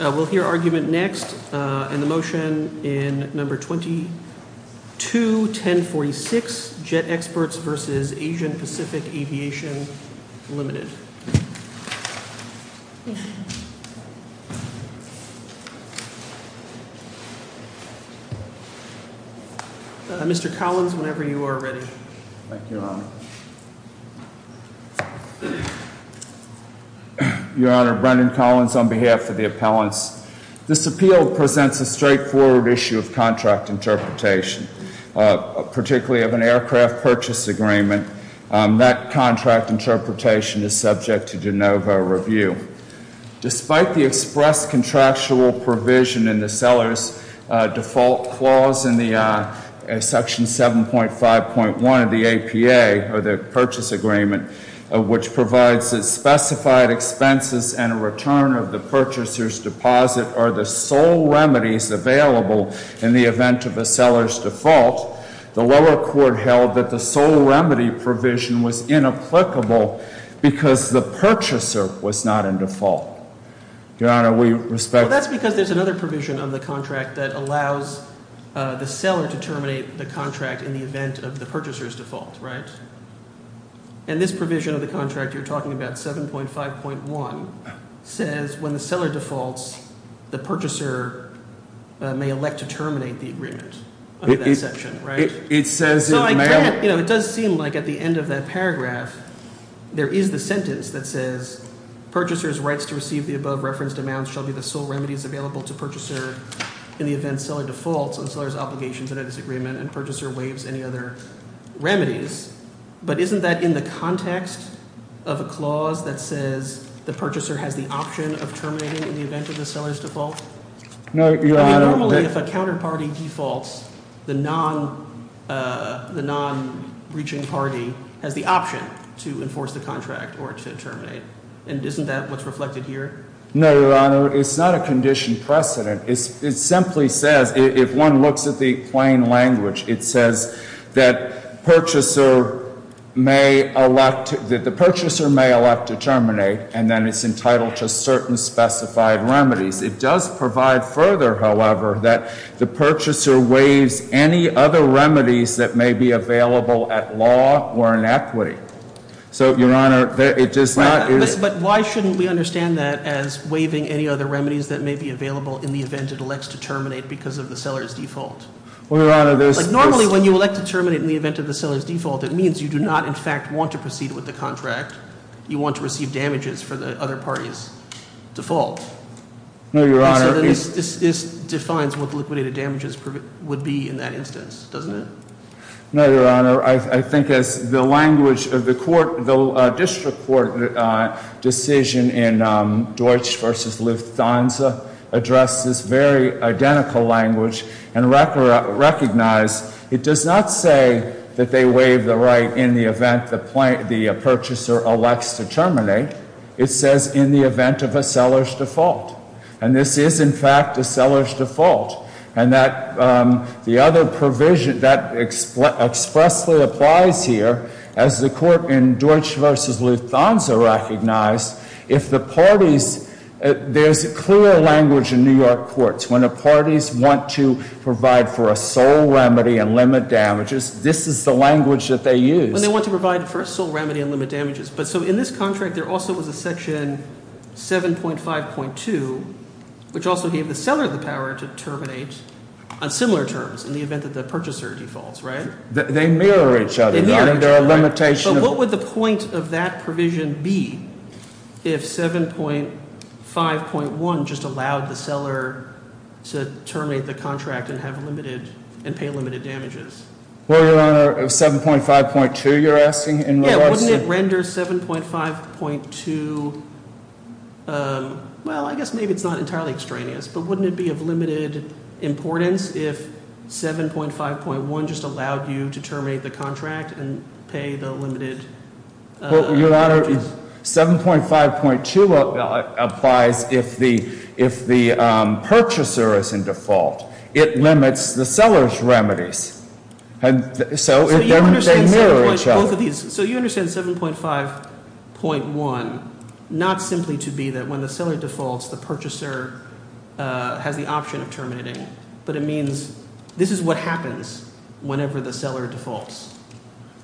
We'll hear argument next and the motion in number 22, 1046 Jet Experts v. Asian Pacific Aviation Limited. Mr. Collins, whenever you are ready. Thank you, Your Honor. Your Honor, Brendan Collins on behalf of the appellants. This appeal presents a straightforward issue of contract interpretation, particularly of an aircraft purchase agreement. That contract interpretation is subject to de novo review. Despite the express contractual provision in the seller's default clause in the section 7.5.1 of the APA, or the purchase agreement, which provides that specified expenses and a return of the purchaser's deposit are the sole remedies available in the event of a seller's default, the lower court held that the sole remedy provision was inapplicable because the purchaser was not in default. Your Honor, we respect— Well, that's because there's another provision on the contract that allows the seller to terminate the contract in the event of the purchaser's default, right? And this provision of the contract you're talking about, 7.5.1, says when the seller defaults, the purchaser may elect to terminate the agreement of that section, right? It says— So it does seem like at the end of that paragraph there is the sentence that says purchaser's rights to receive the above referenced amounts shall be the sole defaults on seller's obligations under this agreement and purchaser waives any other remedies. But isn't that in the context of a clause that says the purchaser has the option of terminating in the event of the seller's default? No, Your Honor— I mean, normally if a counterparty defaults, the non-breaching party has the option to enforce the contract or to terminate. And isn't that what's reflected here? No, Your Honor. It's not a condition precedent. It simply says, if one looks at the plain language, it says that the purchaser may elect to terminate and then it's entitled to certain specified remedies. It does provide further, however, that the purchaser waives any other remedies that may be available at law or in equity. So, Your Honor, it does not— But why shouldn't we understand that as waiving any other remedies that may be available in the event it elects to terminate because of the seller's default? Well, Your Honor, there's— Like, normally when you elect to terminate in the event of the seller's default, it means you do not, in fact, want to proceed with the contract. You want to receive damages for the other party's default. No, Your Honor— And so this defines what the liquidated damages would be in that instance, doesn't it? No, Your Honor. I think as the language of the court, the district court decision in Deutsch v. Lufthansa addressed this very identical language and recognized it does not say that they waive the right in the event the purchaser elects to terminate. It says in the event of a seller's default. And this is, in fact, a seller's default. And the other provision that expressly applies here as the court in Deutsch v. Lufthansa recognized, if the parties— There's clear language in New York courts. When the parties want to provide for a sole remedy and limit damages, this is the language that they use. When they want to provide for a sole remedy and limit damages. But so in this contract, there also was a section 7.5.2, which also gave the seller the power to terminate on similar terms in the event that the purchaser defaults, right? They mirror each other, Your Honor. They're a limitation of— If 7.5.1 just allowed the seller to terminate the contract and have limited—and pay limited damages. Well, Your Honor, 7.5.2, you're asking in reverse? Yeah, wouldn't it render 7.5.2—well, I guess maybe it's not entirely extraneous, but wouldn't it be of limited importance if 7.5.1 just allowed you to terminate the contract and pay the limited damages? Well, Your Honor, 7.5.2 applies if the purchaser is in default. It limits the seller's remedies. And so they mirror each other. So you understand 7.5.1 not simply to be that when the seller defaults, the purchaser has the option of terminating. But it means this is what happens whenever the seller defaults.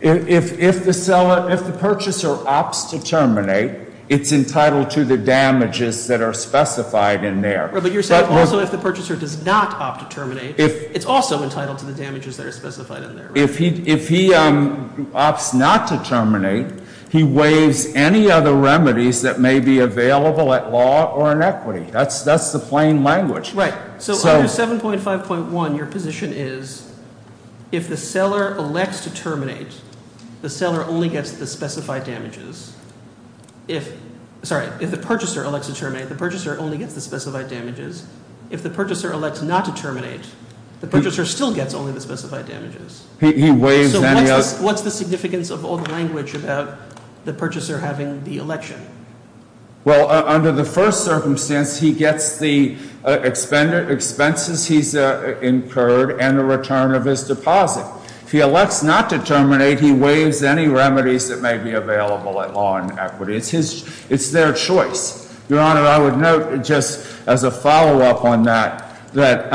If the purchaser opts to terminate, it's entitled to the damages that are specified in there. But you're saying also if the purchaser does not opt to terminate, it's also entitled to the damages that are specified in there, right? If he opts not to terminate, he waives any other remedies that may be available at law or in equity. That's the plain language. Right. So under 7.5.1, your position is if the seller elects to terminate, the seller only gets the specified damages. If, sorry, if the purchaser elects to terminate, the purchaser only gets the specified damages. If the purchaser elects not to terminate, the purchaser still gets only the specified damages. What's the significance of all the language about the purchaser having the election? Well, under the first circumstance, he gets the expenses he's incurred and the return of his deposit. If he elects not to terminate, he waives any remedies that may be available at law and equity. It's their choice. Your Honor, I would note just as a follow-up on that, that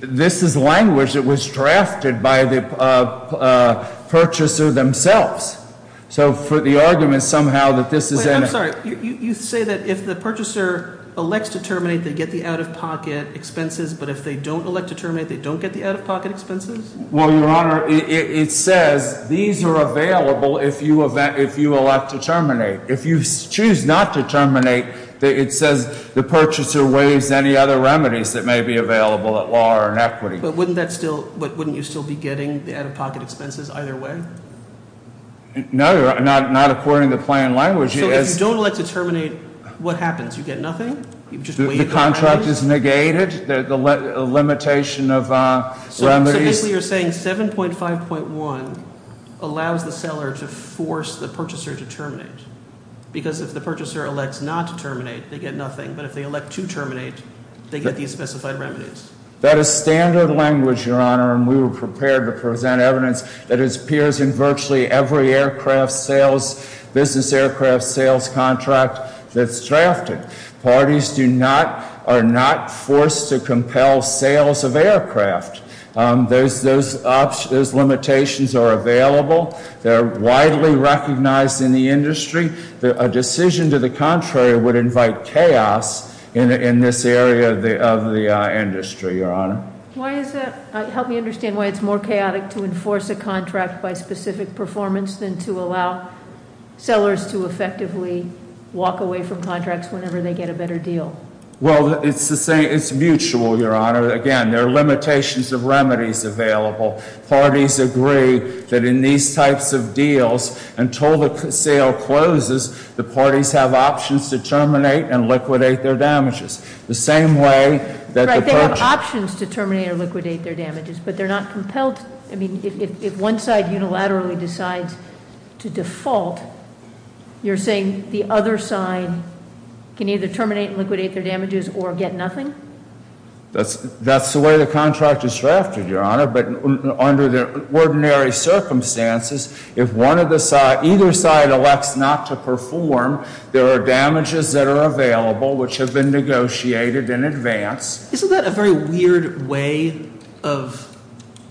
this is language that was drafted by the purchaser themselves. So for the argument somehow that this is- Wait, I'm sorry. You say that if the purchaser elects to terminate, they get the out-of-pocket expenses, but if they don't elect to terminate, they don't get the out-of-pocket expenses? Well, Your Honor, it says these are available if you elect to terminate. If you choose not to terminate, it says the purchaser waives any other remedies that may be available at law or in equity. But wouldn't you still be getting the out-of-pocket expenses either way? No, Your Honor, not according to plain language. So if you don't elect to terminate, what happens? You get nothing? You just waive the remedies? The contract is negated, the limitation of remedies. So basically you're saying 7.5.1 allows the seller to force the purchaser to terminate because if the purchaser elects not to terminate, they get nothing. But if they elect to terminate, they get these specified remedies. That is standard language, Your Honor, and we were prepared to present evidence that appears in virtually every business aircraft sales contract that's drafted. Parties are not forced to compel sales of aircraft. Those limitations are available. They're widely recognized in the industry. A decision to the contrary would invite chaos in this area of the industry, Your Honor. Why is that? Help me understand why it's more chaotic to enforce a contract by specific performance than to allow sellers to effectively walk away from contracts whenever they get a better deal. Well, it's mutual, Your Honor. Again, there are limitations of remedies available. Parties agree that in these types of deals, until the sale closes, the parties have options to terminate and liquidate their damages. The same way that- They have options to terminate or liquidate their damages, but they're not compelled. I mean, if one side unilaterally decides to default, you're saying the other side can either terminate and liquidate their damages or get nothing? That's the way the contract is drafted, Your Honor. But under the ordinary circumstances, if either side elects not to perform, there are damages that are available which have been negotiated in advance. Isn't that a very weird way of-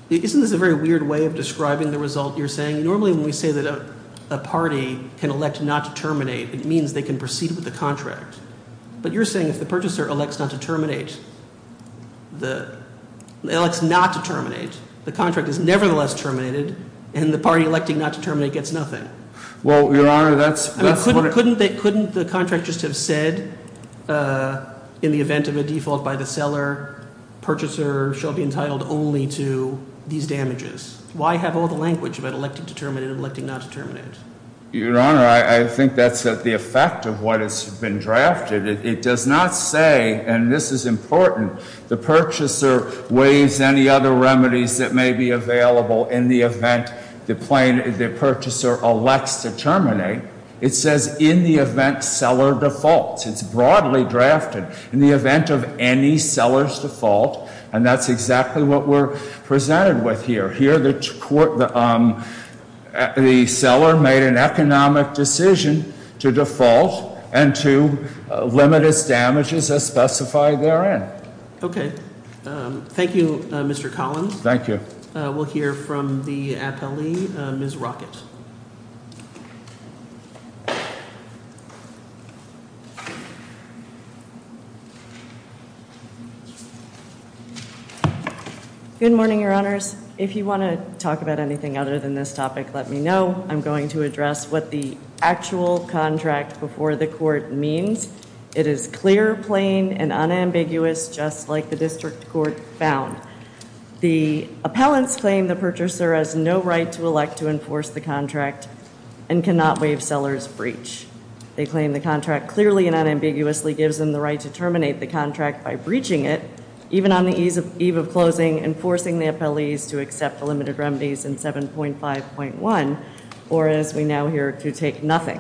Isn't this a very weird way of describing the result? You're saying normally when we say that a party can elect not to terminate, it means they can proceed with the contract. But you're saying if the purchaser elects not to terminate, the- elects not to terminate, the contract is nevertheless terminated and the party electing not to terminate gets nothing. Well, Your Honor, that's- Couldn't the contract just have said in the event of a default by the seller, purchaser shall be entitled only to these damages? Why have all the language about electing to terminate and electing not to terminate? Your Honor, I think that's the effect of what has been drafted. It does not say, and this is important, the purchaser waives any other remedies that may be available in the event the purchaser elects to terminate. It says in the event seller defaults. It's broadly drafted. In the event of any seller's default, and that's exactly what we're presented with here, here the court- the seller made an economic decision to default and to limit its damages as specified therein. Okay. Thank you, Mr. Collins. Thank you. We'll hear from the appellee, Ms. Rockett. Okay. Good morning, Your Honors. If you want to talk about anything other than this topic, let me know. I'm going to address what the actual contract before the court means. It is clear, plain, and unambiguous, just like the district court found. The appellants claim the purchaser has no right to elect to enforce the contract and cannot waive seller's breach. They claim the contract clearly and unambiguously gives them the right to terminate the contract by breaching it, even on the eve of closing, and forcing the appellees to accept the limited remedies in 7.5.1, or as we now hear, to take nothing.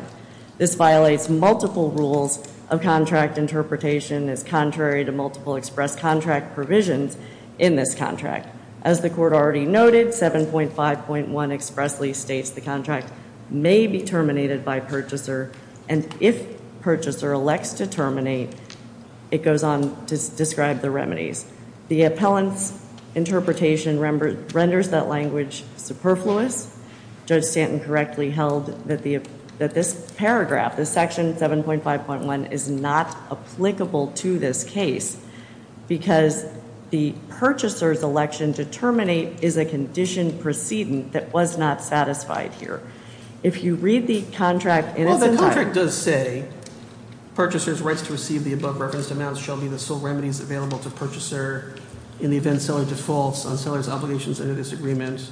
This violates multiple rules of contract interpretation as contrary to multiple express contract provisions in this contract. As the court already noted, 7.5.1 expressly states the contract may be terminated by purchaser, and if purchaser elects to terminate, it goes on to describe the remedies. The appellant's interpretation renders that language superfluous. Judge Stanton correctly held that this paragraph, this section 7.5.1, is not applicable to this case because the purchaser's election to terminate is a conditioned precedent that was not satisfied here. If you read the contract, and it's- Well, the contract does say, purchaser's rights to receive the above-referenced amounts shall be the sole remedies available to purchaser in the event seller defaults on seller's obligations under this agreement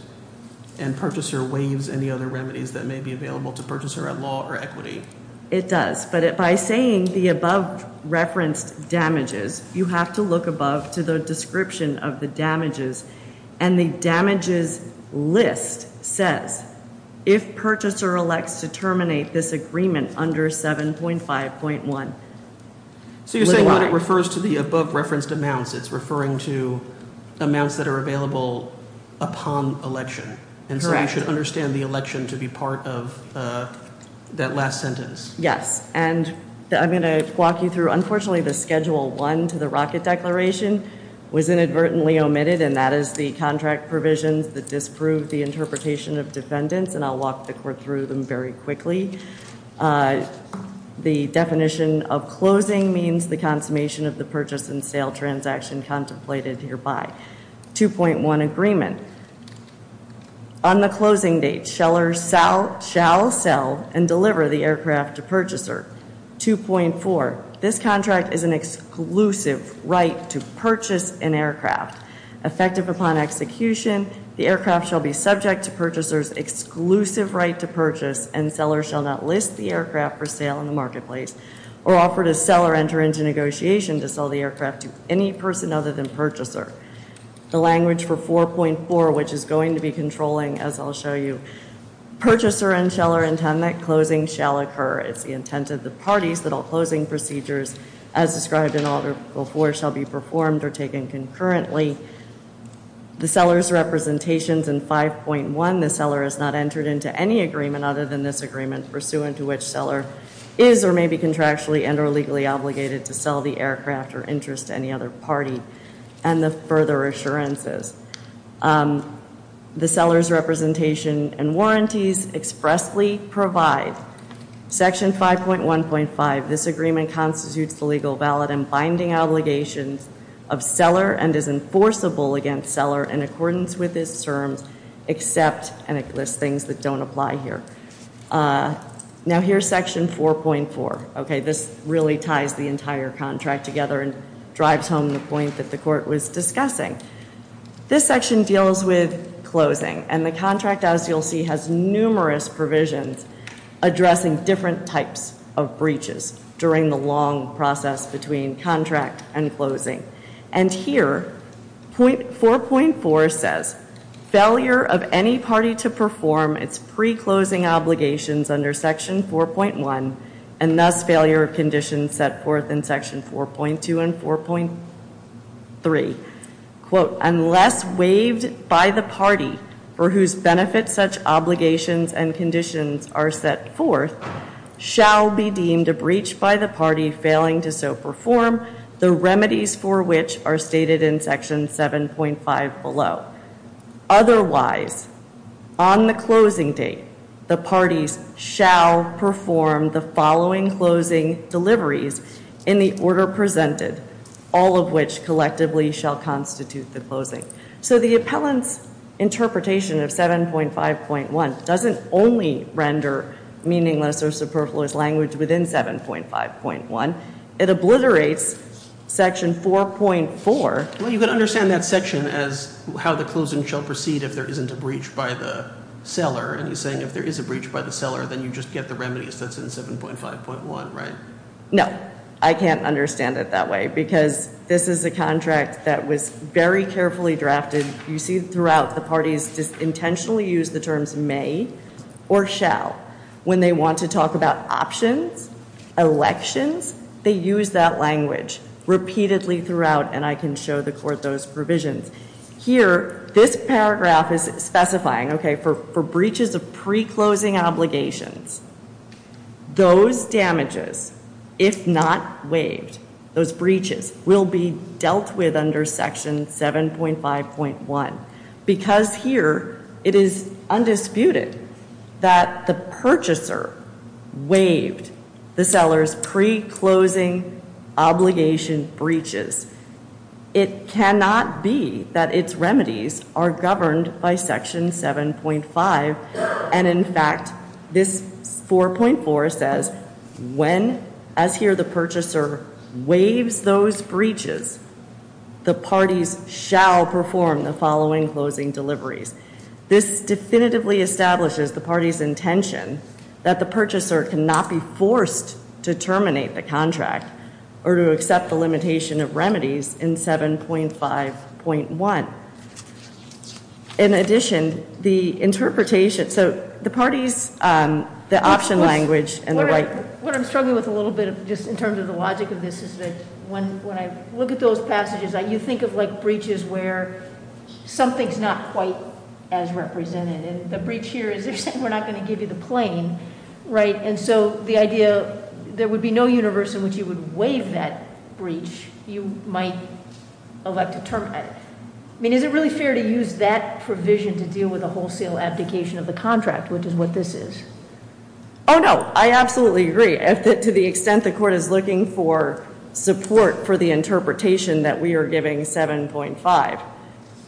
and purchaser waives any other remedies that may be available to purchaser at law or equity. It does, but by saying the above-referenced damages, you have to look above to the description of the damages, and the damages list says, if purchaser elects to terminate this agreement under 7.5.1. So you're saying that it refers to the above-referenced amounts. It's referring to amounts that are available upon election. And so you should understand the election to be part of that last sentence. Yes, and I'm going to walk you through, unfortunately, the schedule one to the rocket declaration was inadvertently omitted, and that is the contract provisions that disprove the interpretation of defendants, and I'll walk the court through them very quickly. The definition of closing means the consummation of the purchase and sale transaction contemplated hereby. 2.1 agreement. On the closing date, seller shall sell and deliver the aircraft to purchaser. 2.4. This contract is an exclusive right to purchase an aircraft. Effective upon execution, the aircraft shall be subject to purchaser's exclusive right to purchase, and seller shall not list the aircraft for sale in the marketplace or offer to sell or enter into negotiation to sell the aircraft to any person other than purchaser. The language for 4.4, which is going to be controlling as I'll show you, purchaser and seller intend that closing shall occur. It's the intent of the parties that all closing procedures, as described in Article 4, shall be performed or taken concurrently. The seller's representations in 5.1, the seller has not entered into any agreement other than this agreement pursuant to which seller is or may be contractually and or legally obligated to sell the aircraft or interest to any other party, and the further assurances. The seller's representation and warranties expressly provide Section 5.1.5. This agreement constitutes the legal, valid, and binding obligations of seller and is enforceable against seller in accordance with his terms, except, and it lists things that don't apply here. Now here's Section 4.4. Okay, this really ties the entire contract together and drives home the point that the court was discussing. This section deals with closing, and the contract, as you'll see, has numerous provisions addressing different types of breaches during the long process between contract and closing. And here, 4.4 says, failure of any party to perform its pre-closing obligations under Section 4.1 and thus failure of conditions set forth in Section 4.2 and 4.3, unless waived by the party for whose benefit such obligations and conditions are set forth, shall be deemed a breach by the party failing to so perform the remedies for which are stated in Section 7.5 below. Otherwise, on the closing date, the parties shall perform the following closing deliveries in the order presented, all of which collectively shall constitute the closing. So the appellant's interpretation of 7.5.1 doesn't only render meaningless or superfluous language within 7.5.1. It obliterates Section 4.4. Well, you can understand that section as how the closing shall proceed if there isn't a breach by the seller. And he's saying if there is a breach by the seller, then you just get the remedies that's in 7.5.1, right? No, I can't understand it that way because this is a contract that was very carefully drafted. You see throughout the parties just intentionally use the terms may or shall. When they want to talk about options, elections, they use that language repeatedly throughout. And I can show the court those provisions. Here, this paragraph is specifying, okay, for breaches of pre-closing obligations, those damages, if not waived, those breaches will be dealt with under Section 7.5.1. Because here, it is undisputed that the purchaser waived the seller's pre-closing obligation breaches. It cannot be that its remedies are governed by Section 7.5. And in fact, this 4.4 says when, as here, the purchaser waives those breaches, the parties shall perform the following closing deliveries. This definitively establishes the party's intention that the purchaser cannot be forced to terminate the contract or to accept the limitation of remedies in 7.5.1. Now, in addition, the interpretation, so the parties, the option language and the right- What I'm struggling with a little bit of just in terms of the logic of this is that when I look at those passages, you think of like breaches where something's not quite as represented. And the breach here is they're saying we're not going to give you the plane, right? And so the idea, there would be no universe in which you would waive that breach. You might elect to terminate it. I mean, is it really fair to use that provision to deal with a wholesale abdication of the contract, which is what this is? Oh, no, I absolutely agree. To the extent the court is looking for support for the interpretation that we are giving 7.5,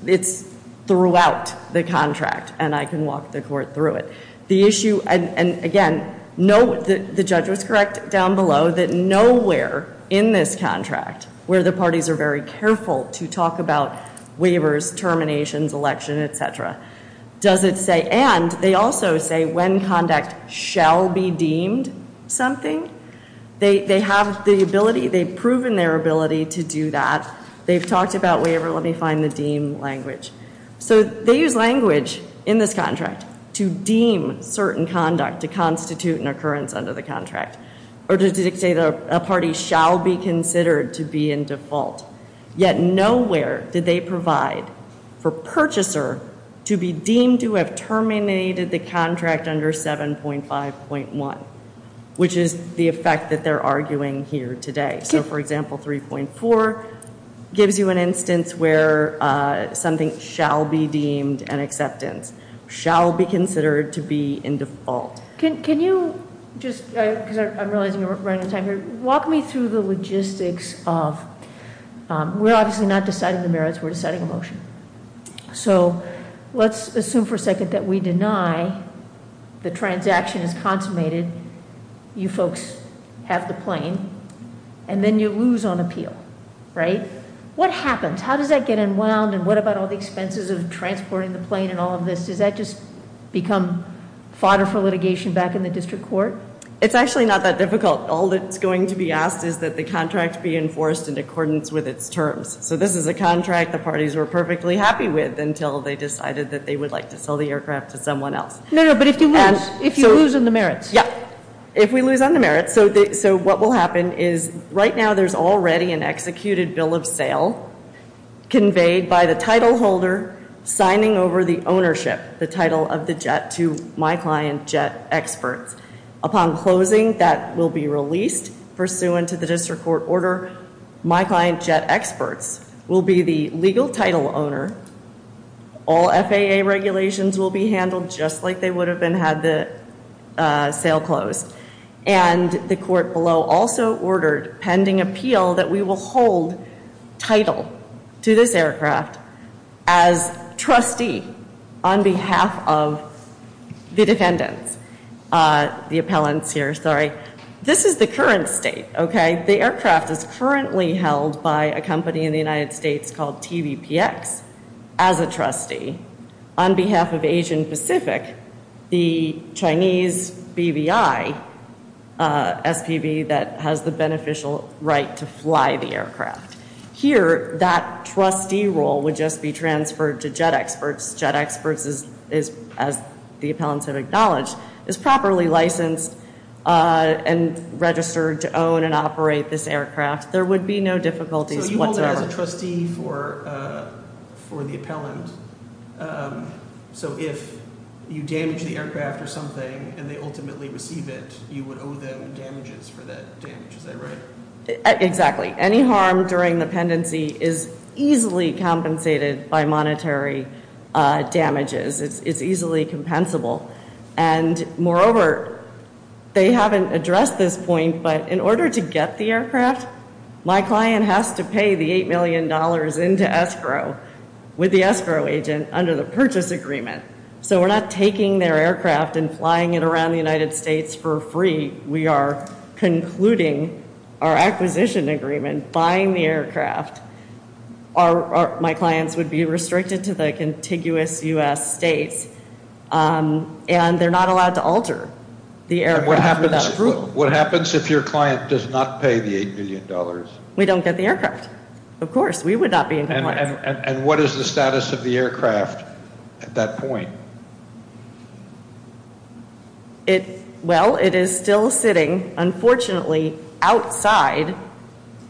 it's throughout the contract. And I can walk the court through it. The issue, and again, the judge was correct down below, that nowhere in this contract where the parties are very careful to talk about waivers, terminations, election, et cetera, does it say- And they also say when conduct shall be deemed something, they have the ability, they've proven their ability to do that. They've talked about waiver. Let me find the deem language. So they use language in this contract to deem certain conduct, to constitute an occurrence under the contract, or to dictate that a party shall be considered to be in default. Yet nowhere did they provide for purchaser to be deemed to have terminated the contract under 7.5.1, which is the effect that they're arguing here today. So for example, 3.4 gives you an instance where something shall be deemed an acceptance, shall be considered to be in default. Can you just, because I'm realizing we're running out of time here, walk me through the logistics of, we're obviously not deciding the merits, we're deciding a motion. So let's assume for a second that we deny the transaction is consummated, you folks have the plane, and then you lose on appeal, right? What happens? How does that get unwound? And what about all the expenses of transporting the plane and all of this? Does that just become fodder for litigation back in the district court? It's actually not that difficult. All that's going to be asked is that the contract be enforced in accordance with its terms. So this is a contract the parties were perfectly happy with until they decided that they would like to sell the aircraft to someone else. No, no, but if you lose on the merits. Yeah, if we lose on the merits. So what will happen is right now there's already an executed bill of sale conveyed by the title holder signing over the ownership, the title of the jet, to My Client Jet Experts. Upon closing, that will be released pursuant to the district court order. My Client Jet Experts will be the legal title owner. All FAA regulations will be handled just like they would have been had the sale closed. And the court below also ordered pending appeal that we will hold title to this aircraft as trustee on behalf of the defendants. The appellants here, sorry. This is the current state, okay? The aircraft is currently held by a company in the United States called TVPX as a trustee. On behalf of Asian Pacific, the Chinese BVI SPV that has the beneficial right to fly the aircraft. Here, that trustee role would just be transferred to Jet Experts. Jet Experts is, as the appellants have acknowledged, is properly licensed and registered to own and operate this aircraft. There would be no difficulties whatsoever. As a trustee for the appellant, so if you damage the aircraft or something and they ultimately receive it, you would owe them damages for that damage, is that right? Exactly. Any harm during the pendency is easily compensated by monetary damages. It's easily compensable. And moreover, they haven't addressed this point, but in order to get the aircraft, my client has to pay the $8 million into escrow with the escrow agent under the purchase agreement. So we're not taking their aircraft and flying it around the United States for free. We are concluding our acquisition agreement, buying the aircraft. My clients would be restricted to the contiguous U.S. states, and they're not allowed to alter the aircraft without approval. What happens if your client does not pay the $8 million? We don't get the aircraft. Of course, we would not be in compliance. And what is the status of the aircraft at that point? Well, it is still sitting, unfortunately, outside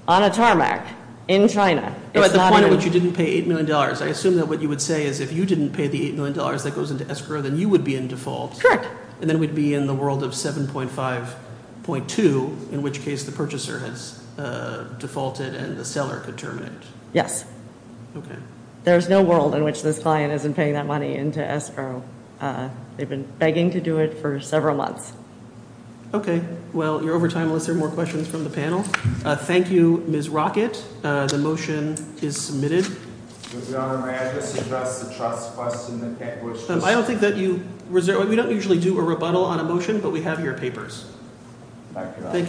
on a tarmac in China. At the point at which you didn't pay $8 million, I assume that what you would say is if you didn't pay the $8 million that goes into escrow, then you would be in default. Correct. And then we'd be in the world of 7.5.2, in which case the purchaser has defaulted and the seller could terminate. Yes. Okay. There's no world in which this client isn't paying that money into escrow. They've been begging to do it for several months. Okay. Well, you're over time, Melissa. More questions from the panel? Thank you, Ms. Rockett. The motion is submitted. Mr. Governor, may I just address the trust question? I don't think that you—we don't usually do a rebuttal on a motion, but we have your papers. Thank you very—